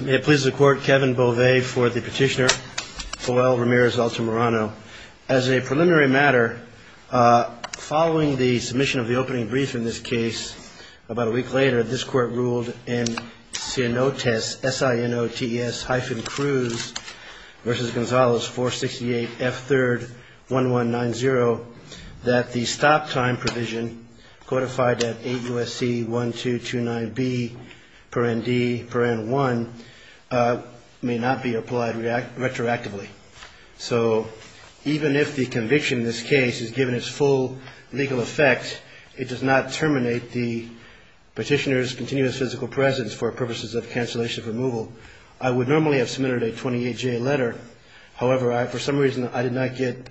May it please the court, Kevin Bové for the petitioner, Joel Ramirez-Altamirano. As a preliminary matter, following the submission of the opening brief in this case, about a week later, this court ruled in SINOTES, S-I-N-O-T-E-S hyphen Cruz versus Gonzales 468 F3rd 1190, that the stop time provision codified at 8 USC 1229B per ND per N1 may not be applied retroactively. So even if the conviction in this case is given its full legal effect, it does not terminate the petitioner's continuous physical presence for purposes of cancellation of removal. I would normally have submitted a 28-J letter. However, for some reason I did not get written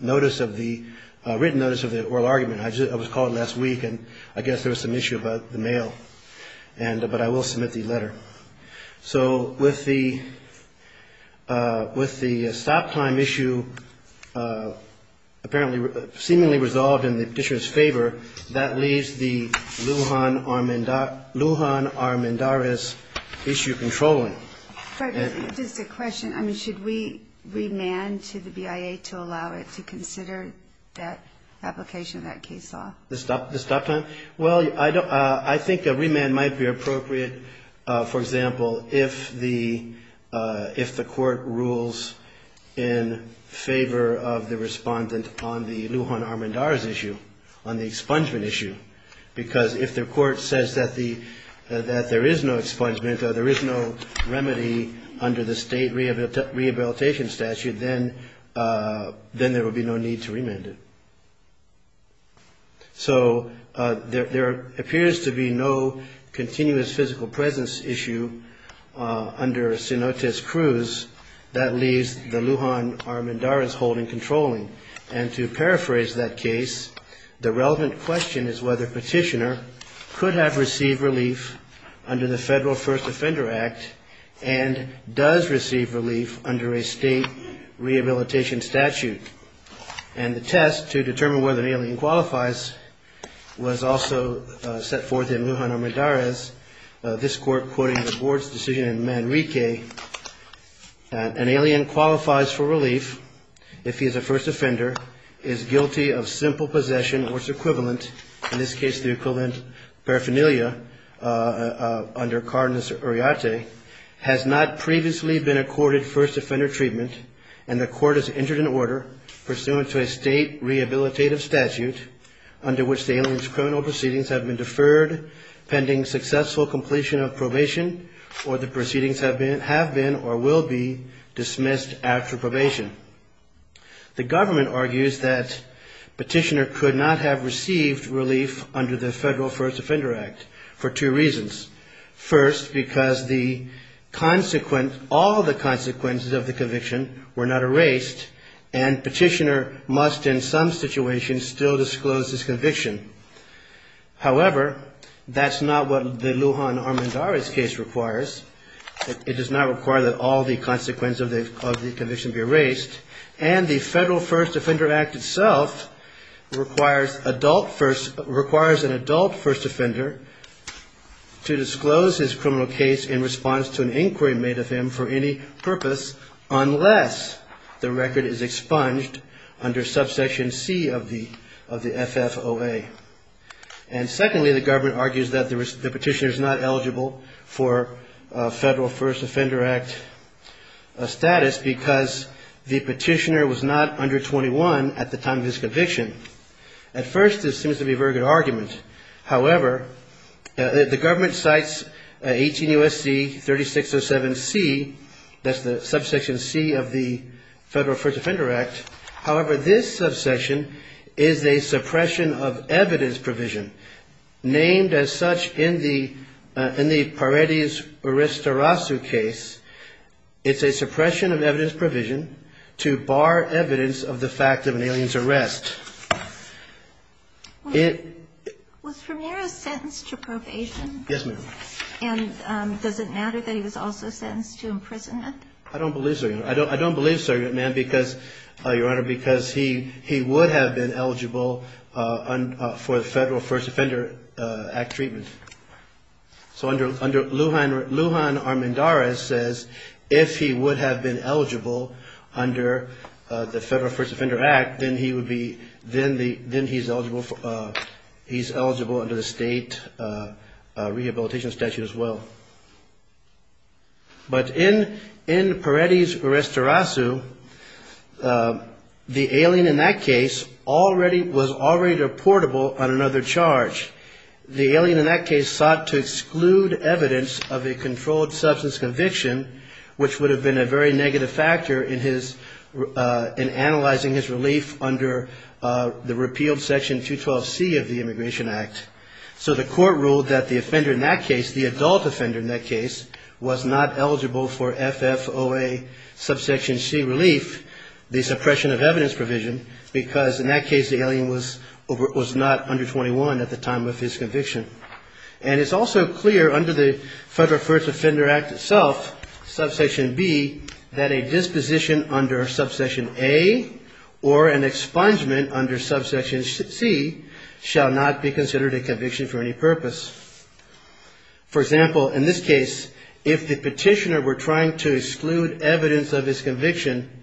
notice of the oral argument. I was called last week and I guess there was some issue about the mail and but I will submit the letter. So with the with the stop time issue apparently seemingly resolved in the petitioner's favor, that leaves the Lujan-Armendariz issue controlling. Just a question. I mean, should we remand to the BIA to allow it to consider that application of that case law? The stop time? Well, I think a remand might be appropriate, for example, if the if the court rules in favor of the respondent on the Lujan-Armendariz issue, on the expungement issue. Because if the court says that there is no expungement, there is no remedy under the state rehabilitation statute, then there will be no need to remand it. So there appears to be no continuous physical presence issue under Sinote's cruise. That leaves the Lujan-Armendariz holding controlling. And to paraphrase that case, the relevant question is whether petitioner could have received relief under the Federal First Offender Act and does receive relief under a state rehabilitation statute. And the test to determine whether an alien qualifies was also set forth in Lujan-Armendariz, this court quoting the board's decision in Manrique, an alien qualifies for relief if he is a first offender, is guilty of simple possession or its equivalent, in this case the equivalent paraphernalia under Cardenas-Uriarte, has not previously been accorded first offender treatment, and the court has entered an order pursuant to a state rehabilitative statute under which the alien's criminal proceedings have been deferred pending successful completion of probation or the proceedings have been or will be dismissed after probation. The government argues that petitioner could not have received relief under the Federal First Offender Act for two reasons. First, because the consequent, all the consequences of the conviction were not erased and petitioner must in some situations still disclose his conviction. However, that's not what the Lujan-Armendariz case requires. It does not require that all the consequences of the conviction be erased and the Federal First Offender Act itself requires an adult first offender to disclose his criminal case in response to an inquiry made of him for any purpose unless the record is expunged under subsection C of the FFOA. And secondly, the government argues that the petitioner is not eligible for Federal First Offender Act status because the petitioner was not under 21 at the time of his conviction. At first, this seems to be a very good argument. However, the government cites 18 U.S.C. 3607 C, that's the subsection C of the Federal First Offender Act. However, this subsection is a suppression of evidence provision named as such in the Paredes-Orestarasu case. It's a suppression of evidence provision to bar evidence of the fact of an alien's arrest. Was Ramirez sentenced to probation? Yes, ma'am. And does it matter that he was also sentenced to imprisonment? I don't believe so, ma'am, because, Your Honor, because he would have been eligible for the Federal First Offender Act treatment. So under Lujan-Armendariz says, if he would have been eligible under the Federal First Offender Act, then he's eligible under the state rehabilitation statute as well. But in Paredes-Orestarasu, the alien in that case was already reportable on another charge. The alien in that case sought to exclude evidence of a controlled substance conviction, which would have been a very negative factor in analyzing his relief under the repealed Section 212C of the Immigration Act. So the court ruled that the offender in that case, the adult offender in that case, was not eligible for FFOA subsection C relief, the suppression of evidence provision, because in that case the alien was not under 21 at the time of his conviction. And it's also clear under the Federal First Offender Act itself, subsection B, that a disposition under subsection A or an expungement under subsection C shall not be considered a conviction for any purpose. For example, in this case, if the petitioner were trying to exclude evidence of his conviction,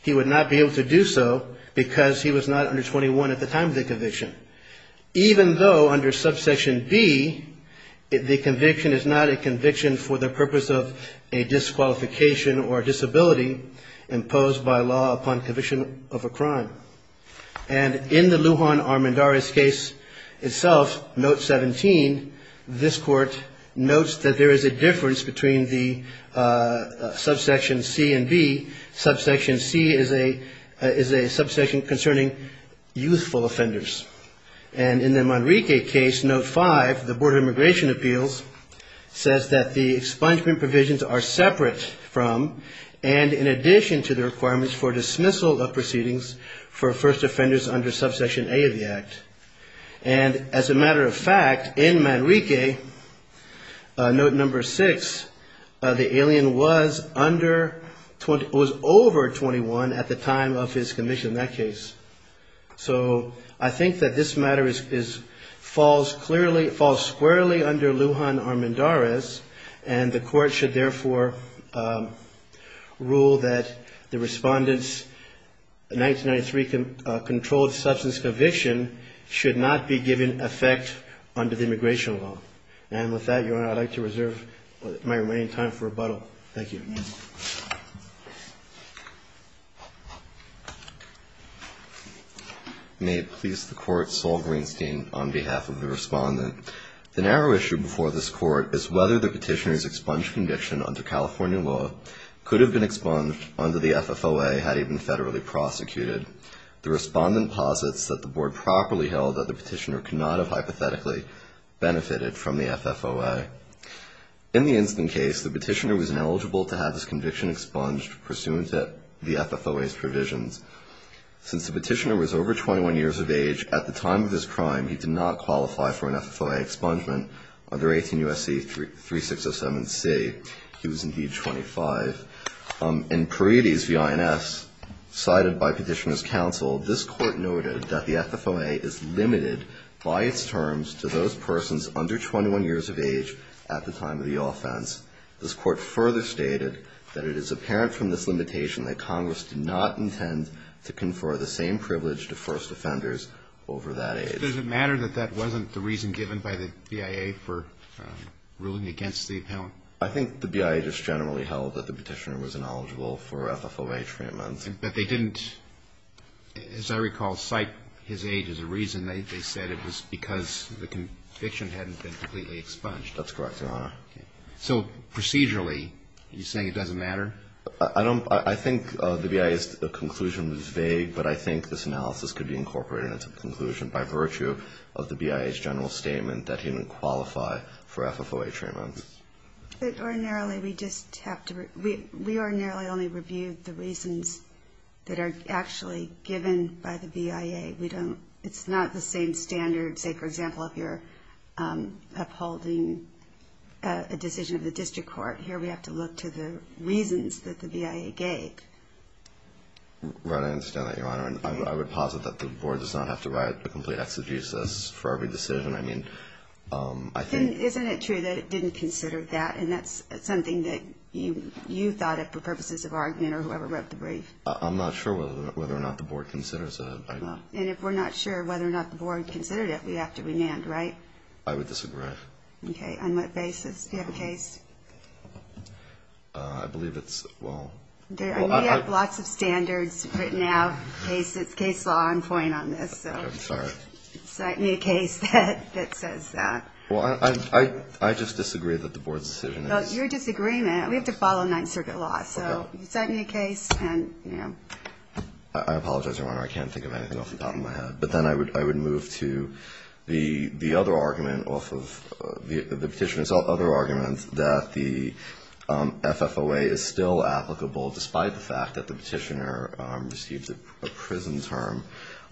he would not be able to do so because he was not under 21 at the time of the conviction. Even though under subsection B, the conviction is not a conviction for the purpose of a disqualification or disability imposed by law upon conviction of a crime. And in the Lujan Armendariz case itself, Note 17, this court notes that there is a difference between the subsection C and B. Subsection C is a subsection concerning youthful offenders. And in the Manrique case, Note 5, the Board of Immigration Appeals, says that the expungement provisions are separate from and in addition to the requirements for dismissal of proceedings for first offenders under subsection A of the Act. And as a matter of fact, in Manrique, Note 6, the alien was over 21 at the time of his conviction in that case. So I think that this matter falls clearly, falls squarely under Lujan Armendariz and the court should therefore rule that the respondent's 1993 controlled substance conviction should not be given effect under the immigration law. And with that, Your Honor, I'd like to reserve my remaining time for rebuttal. Thank you. May it please the Court, Saul Greenstein, on behalf of the respondent. The narrow issue before this Court is whether the petitioner's expunged conviction under California law could have been expunged under the FFOA had he been federally prosecuted. The respondent posits that the Board properly held that the petitioner could not have hypothetically benefited from the FFOA. In the instant case, the petitioner was ineligible to have his conviction expunged pursuant to the FFOA's provisions. Since the petitioner was over 21 years of age, at the time of his crime, he did not qualify for an FFOA expungement under 18 U.S.C. 3607C. He was indeed 25. In Parides v. INS, cited by Petitioner's Counsel, this Court noted that the FFOA is limited by its terms to those persons under 21 years of age at the time of the offense. This Court further stated that it is apparent from this limitation that Congress did not intend to confer the same privilege to first offenders over that age. Does it matter that that wasn't the reason given by the BIA for ruling against the appellant? I think the BIA just generally held that the petitioner was ineligible for FFOA treatment. But they didn't, as I recall, cite his age as a reason. They said it was because the conviction hadn't been completely expunged. That's correct, Your Honor. So, procedurally, are you saying it doesn't matter? I don't – I think the BIA's conclusion was vague, but I think this analysis could be incorporated into the conclusion by virtue of the BIA's general statement that he didn't qualify for FFOA treatment. But ordinarily, we just have to – we ordinarily only review the reasons that are actually given by the BIA. We don't – it's not the same standard, say, for example, if you're upholding a decision of the district court. Here, we have to look to the reasons that the BIA gave. Right, I understand that, Your Honor. I would posit that the Board does not have to write a complete exegesis for every decision. I mean, I think – Isn't it true that it didn't consider that? And that's something that you thought of for purposes of argument or whoever wrote the brief? I'm not sure whether or not the Board considers it. And if we're not sure whether or not the Board considered it, we have to remand, right? I would disagree. Okay, on what basis? Do you have a case? I believe it's – well – We have lots of standards written out. It's case law. I'm pointing on this, so – Okay, I'm sorry. Cite me a case that says that. Well, I just disagree that the Board's decision is – Well, it's your disagreement. We have to follow Ninth Circuit law, so you cite me a case and, you know – I apologize, Your Honor. I can't think of anything off the top of my head. But then I would move to the other argument off of – the petitioner's other argument that the FFOA is still applicable despite the fact that the petitioner received a prison term.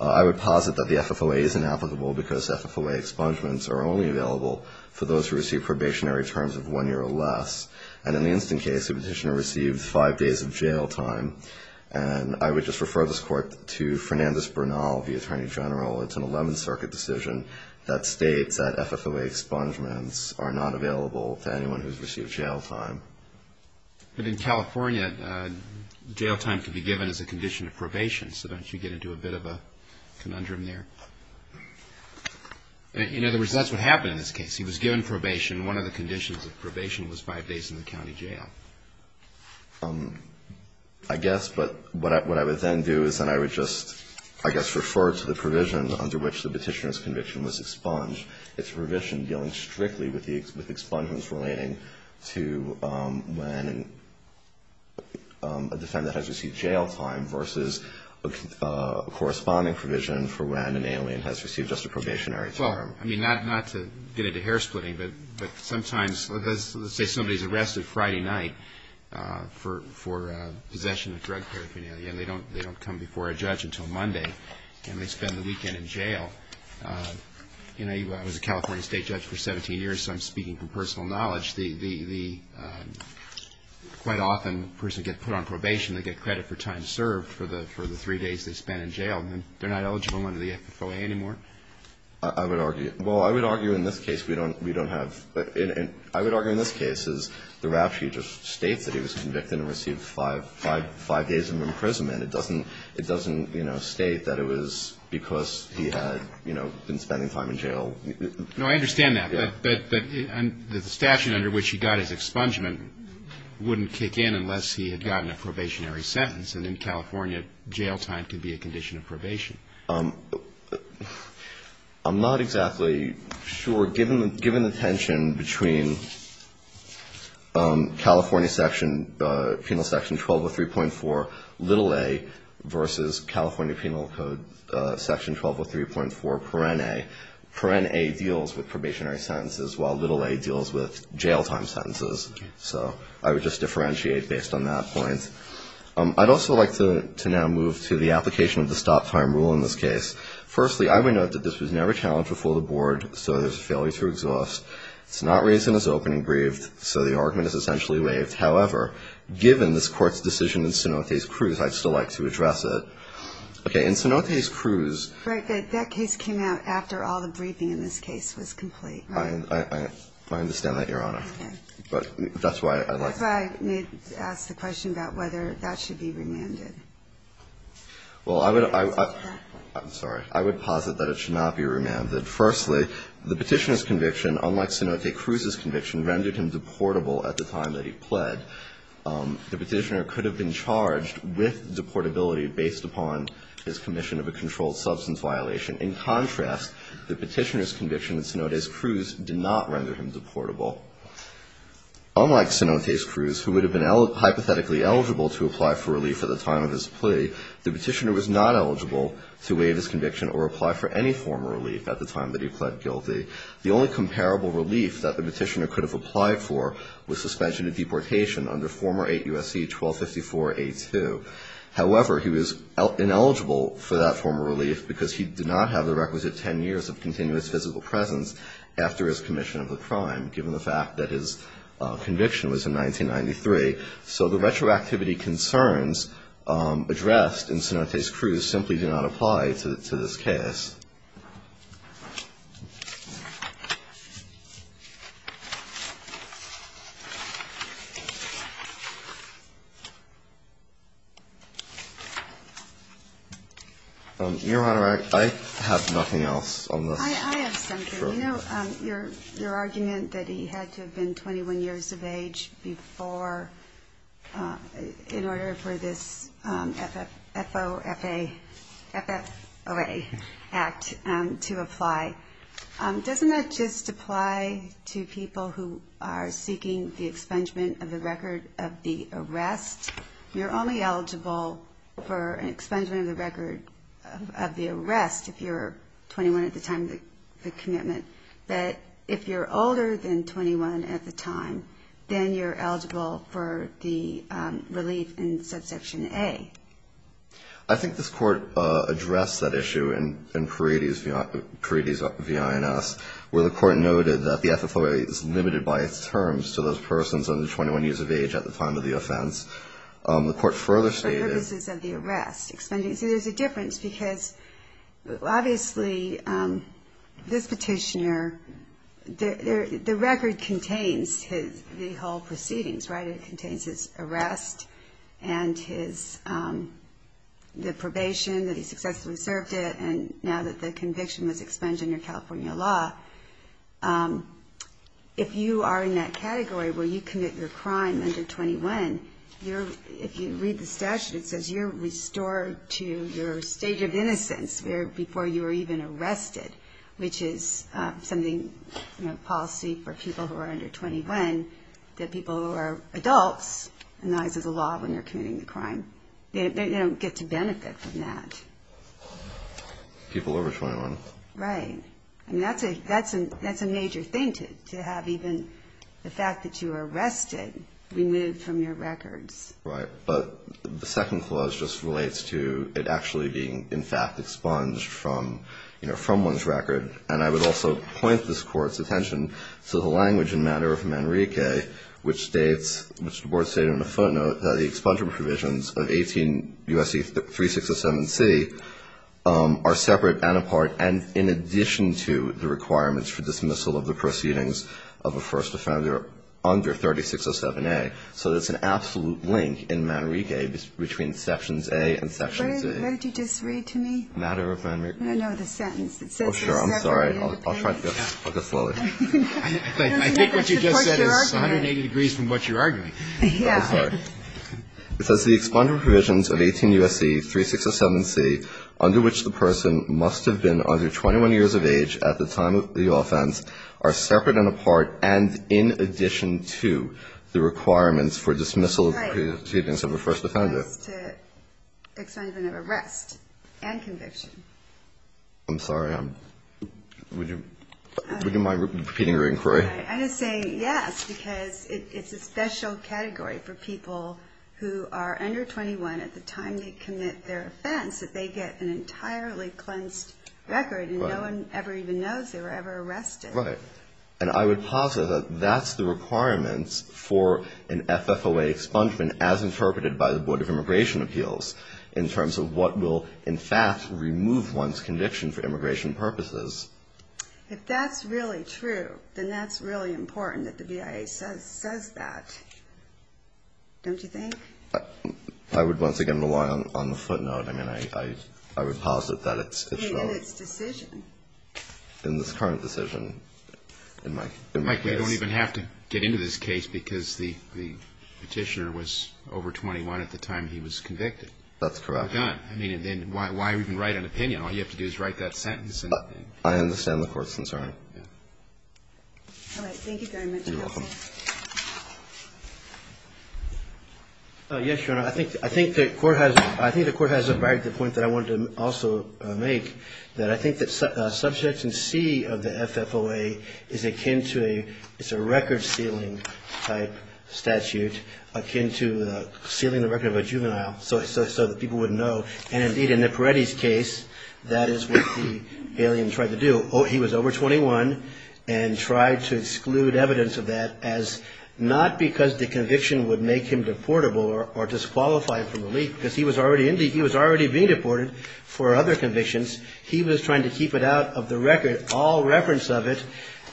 I would posit that the FFOA isn't applicable because FFOA expungements are only available for those who receive probationary terms of one year or less. And in the instant case, the petitioner received five days of jail time. And I would just refer this Court to Fernandez-Bernal, the Attorney General. It's an Eleventh Circuit decision that states that FFOA expungements are not available to anyone who's received jail time. But in California, jail time can be given as a condition of probation. So don't you get into a bit of a conundrum there? In other words, that's what happened in this case. He was given probation. One of the conditions of probation was five days in the county jail. I guess. But what I would then do is then I would just, I guess, refer to the provision under which the petitioner's conviction was expunged. It's a provision dealing strictly with expungements relating to when a defendant has received jail time versus a corresponding provision for when an alien has received just a probationary term. Well, I mean, not to get into hair splitting, but sometimes, let's say somebody's arrested Friday night for possession of drug paraphernalia, and they don't come before a judge until Monday, and they spend the weekend in jail. You know, I was a California state judge for 17 years, so I'm speaking from personal knowledge. The, quite often, a person gets put on probation. They get credit for time served for the three days they spent in jail, and then they're not eligible under the FFOA anymore. I would argue. Well, I would argue in this case, we don't have. I would argue in this case is the rap sheet just states that he was convicted and received five days of imprisonment. It doesn't state that it was because he had been spending time in jail. No, I understand that. But the statute under which he got his expungement wouldn't kick in unless he had gotten a probationary sentence, and in California, jail time can be a condition of probation. I'm not exactly sure. Given the tension between California section, penal section 1203.4, little a, versus California penal code section 1203.4, perene, perene deals with probationary sentences, while little a deals with jail time sentences. So I would just differentiate based on that point. I'd also like to now move to the application of the stop time rule in this case. Firstly, I would note that this was never challenged before the board, so there's a failure to exhaust. It's not raised in its opening brief, so the argument is essentially waived. However, given this court's decision in Cenotes Cruz, I'd still like to address it. Okay, in Cenotes Cruz. Right, that case came out after all the briefing in this case was complete. I understand that, Your Honor, but that's why I'd like to That's why I asked the question about whether that should be remanded. Well, I would, I'm sorry. I would posit that it should not be remanded. Firstly, the Petitioner's conviction, unlike Cenotes Cruz's conviction, rendered him deportable at the time that he pled. The Petitioner could have been charged with deportability based upon his commission of a controlled substance violation. In contrast, the Petitioner's conviction in Cenotes Cruz did not render him deportable. Unlike Cenotes Cruz, who would have been hypothetically eligible to apply for relief at the time of his plea, the Petitioner was not eligible to waive his conviction or apply for any form of relief at the time that he pled guilty. The only comparable relief that the Petitioner could have applied for was suspension of deportation under former 8 U.S.C. 1254A2. However, he was ineligible for that form of relief because he did not have the requisite 10 years of continuous physical presence after his commission of the crime, given the fact that his conviction was in 1993. So the retroactivity concerns addressed in Cenotes Cruz simply do not apply to this case. Your Honor, I have nothing else on this. I have something. You know, your argument that he had to have been 21 years of age before, in order for this FOFA, FFOA Act to apply, doesn't that just apply to people who are seeking the expungement of the record of the arrest? You're only eligible for an expungement of the record of the arrest if you're 21 at the time of the commitment. But if you're older than 21 at the time, then you're eligible for the relief in Subsection A. I think this Court addressed that issue in Paredes v. INS, where the Court noted that the FFOA is limited by its terms to those persons under 21 years of age at the time of the offense. The Court further stated... For purposes of the arrest. See, there's a difference, because obviously this petitioner, the record contains the whole proceedings, right? It contains his arrest and the probation that he successfully served it, and now that the conviction was expunged under California law, if you are in that category where you commit your crime under 21, if you read the statute, it says you're restored to your state of innocence before you were even arrested, which is something, you know, policy for people who are under 21, that people who are adults in the eyes of the law when they're committing the crime, they don't get to benefit from that. People over 21. Right. I mean, that's a major thing to have, even the fact that you were arrested, removed from your records. Right. But the second clause just relates to it actually being, in fact, expunged from, you know, from one's record, and I would also point this Court's attention to the language and matter of Manrique, which states, which the Board stated in a footnote, that the expungement provisions of 18 U.S.C. 3607C are separate and apart, and in addition to the requirements for dismissal of the proceedings of a first offender under 3607A. So there's an absolute link in Manrique between Sections A and Sections A. Where did you just read to me? Matter of Manrique. No, no, the sentence. Oh, sure. I'm sorry. I'll try to go. I'll go slowly. I think what you just said is 180 degrees from what you're arguing. I'm sorry. It says the expungement provisions of 18 U.S.C. 3607C under which the person must have been under 21 years of age at the time of the offense are separate and apart, and in addition to the requirements for dismissal of the proceedings of a first offender. Right. That's to expungement of arrest and conviction. I'm sorry. Would you mind repeating your inquiry? I would say yes, because it's a special category for people who are under 21 at the time they commit their offense that they get an entirely cleansed record and no one ever even knows they were ever arrested. Right. And I would posit that that's the requirements for an FFOA expungement as interpreted by the Board of Immigration Appeals in terms of what will, in fact, remove one's conviction for immigration purposes. If that's really true, then that's really important that the BIA says that. Don't you think? I would once again rely on the footnote. I mean, I would posit that it's true. In its decision. In this current decision in my case. Mike, we don't even have to get into this case because the Petitioner was over 21 at the time he was convicted. That's correct. Well done. I mean, then why even write an opinion? All you have to do is write that sentence. I understand the Court's concern. All right. Thank you very much, Counsel. You're welcome. Yes, Your Honor. I think the Court has arrived at the point that I wanted to also make, that I think that Subject in C of the FFOA is akin to a record-sealing-type statute akin to sealing the record of a juvenile so that people would know. And indeed, in Nipiretti's case, that is what the alien tried to do. He was over 21 and tried to exclude evidence of that as not because the conviction would make him deportable or disqualify him from relief because he was already being deported for other convictions. He was trying to keep it out of the record, all reference of it,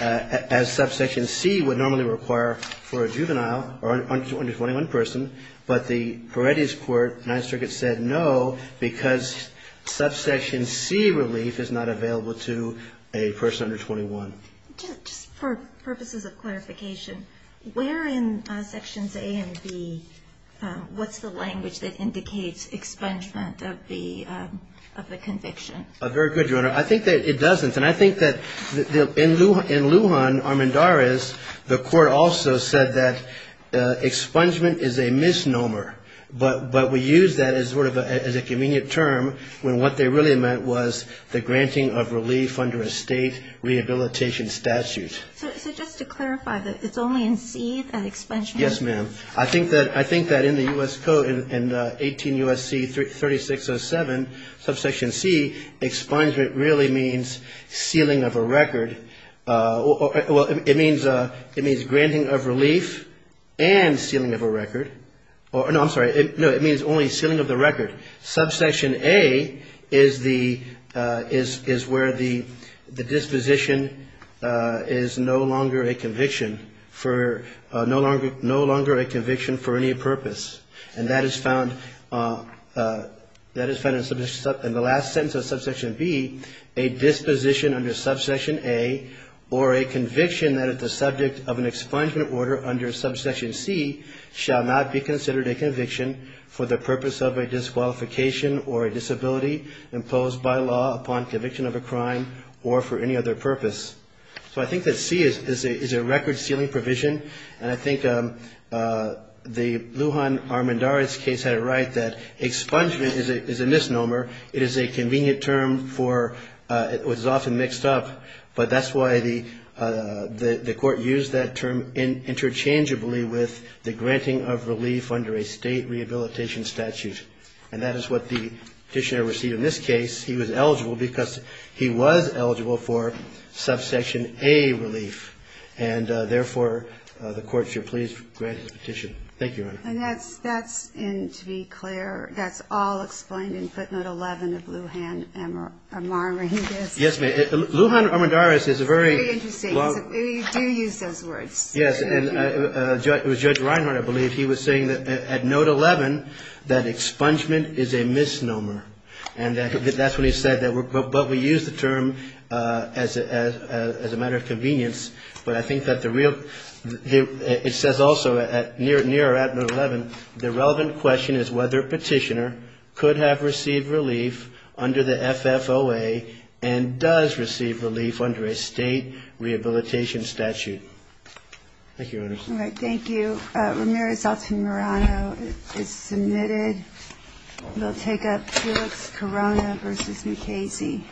as Subsection C would normally require for a juvenile or under 21 person. But the Nipiretti's Court, Ninth Circuit, said no because Subsection C relief is not available to a person under 21. Just for purposes of clarification, where in Sections A and B, what's the language that indicates expungement of the conviction? Very good, Your Honor. I think that it doesn't. And I think that in Lujan, Armendariz, the Court also said that expungement is a misnomer. But we use that as sort of a convenient term when what they really meant was the granting of relief under a state rehabilitation statute. So just to clarify, it's only in C that expungement? Yes, ma'am. I think that in the U.S. Code, in 18 U.S.C. 3607, Subsection C, expungement really means sealing of a record. Well, it means granting of relief and sealing of a record. No, I'm sorry. No, it means only sealing of the record. Subsection A is where the disposition is no longer a conviction for any purpose. And that is found in the last sentence of Subsection B, a disposition under Subsection A or a conviction that is the subject of an expungement order under Subsection C shall not be considered a conviction for the purpose of a disqualification or a disability imposed by law upon conviction of a crime or for any other purpose. So I think that C is a record-sealing provision. And I think the Lujan Armendariz case had it right that expungement is a misnomer. It is a convenient term for what is often mixed up. But that's why the court used that term interchangeably with the granting of relief under a state rehabilitation statute. And that is what the petitioner received in this case. He was eligible because he was eligible for Subsection A relief. And therefore, the court should please grant his petition. Thank you, Your Honor. And that's, to be clear, that's all explained in Footnote 11 of Lujan Armendariz? Yes, ma'am. Lujan Armendariz is a very... Very interesting. You do use those words. Yes. And it was Judge Reinhardt, I believe, he was saying that at Note 11 that expungement is a misnomer. And that's what he said. But we use the term as a matter of convenience. But I think that the real... It says also, near or at Note 11, the relevant question is whether a petitioner could have received relief under the FFOA and does receive relief under a state rehabilitation statute. Thank you, Your Honor. All right. Thank you. Ramirez Altamirano is submitted. We'll take up Felix Corona v. McCasey.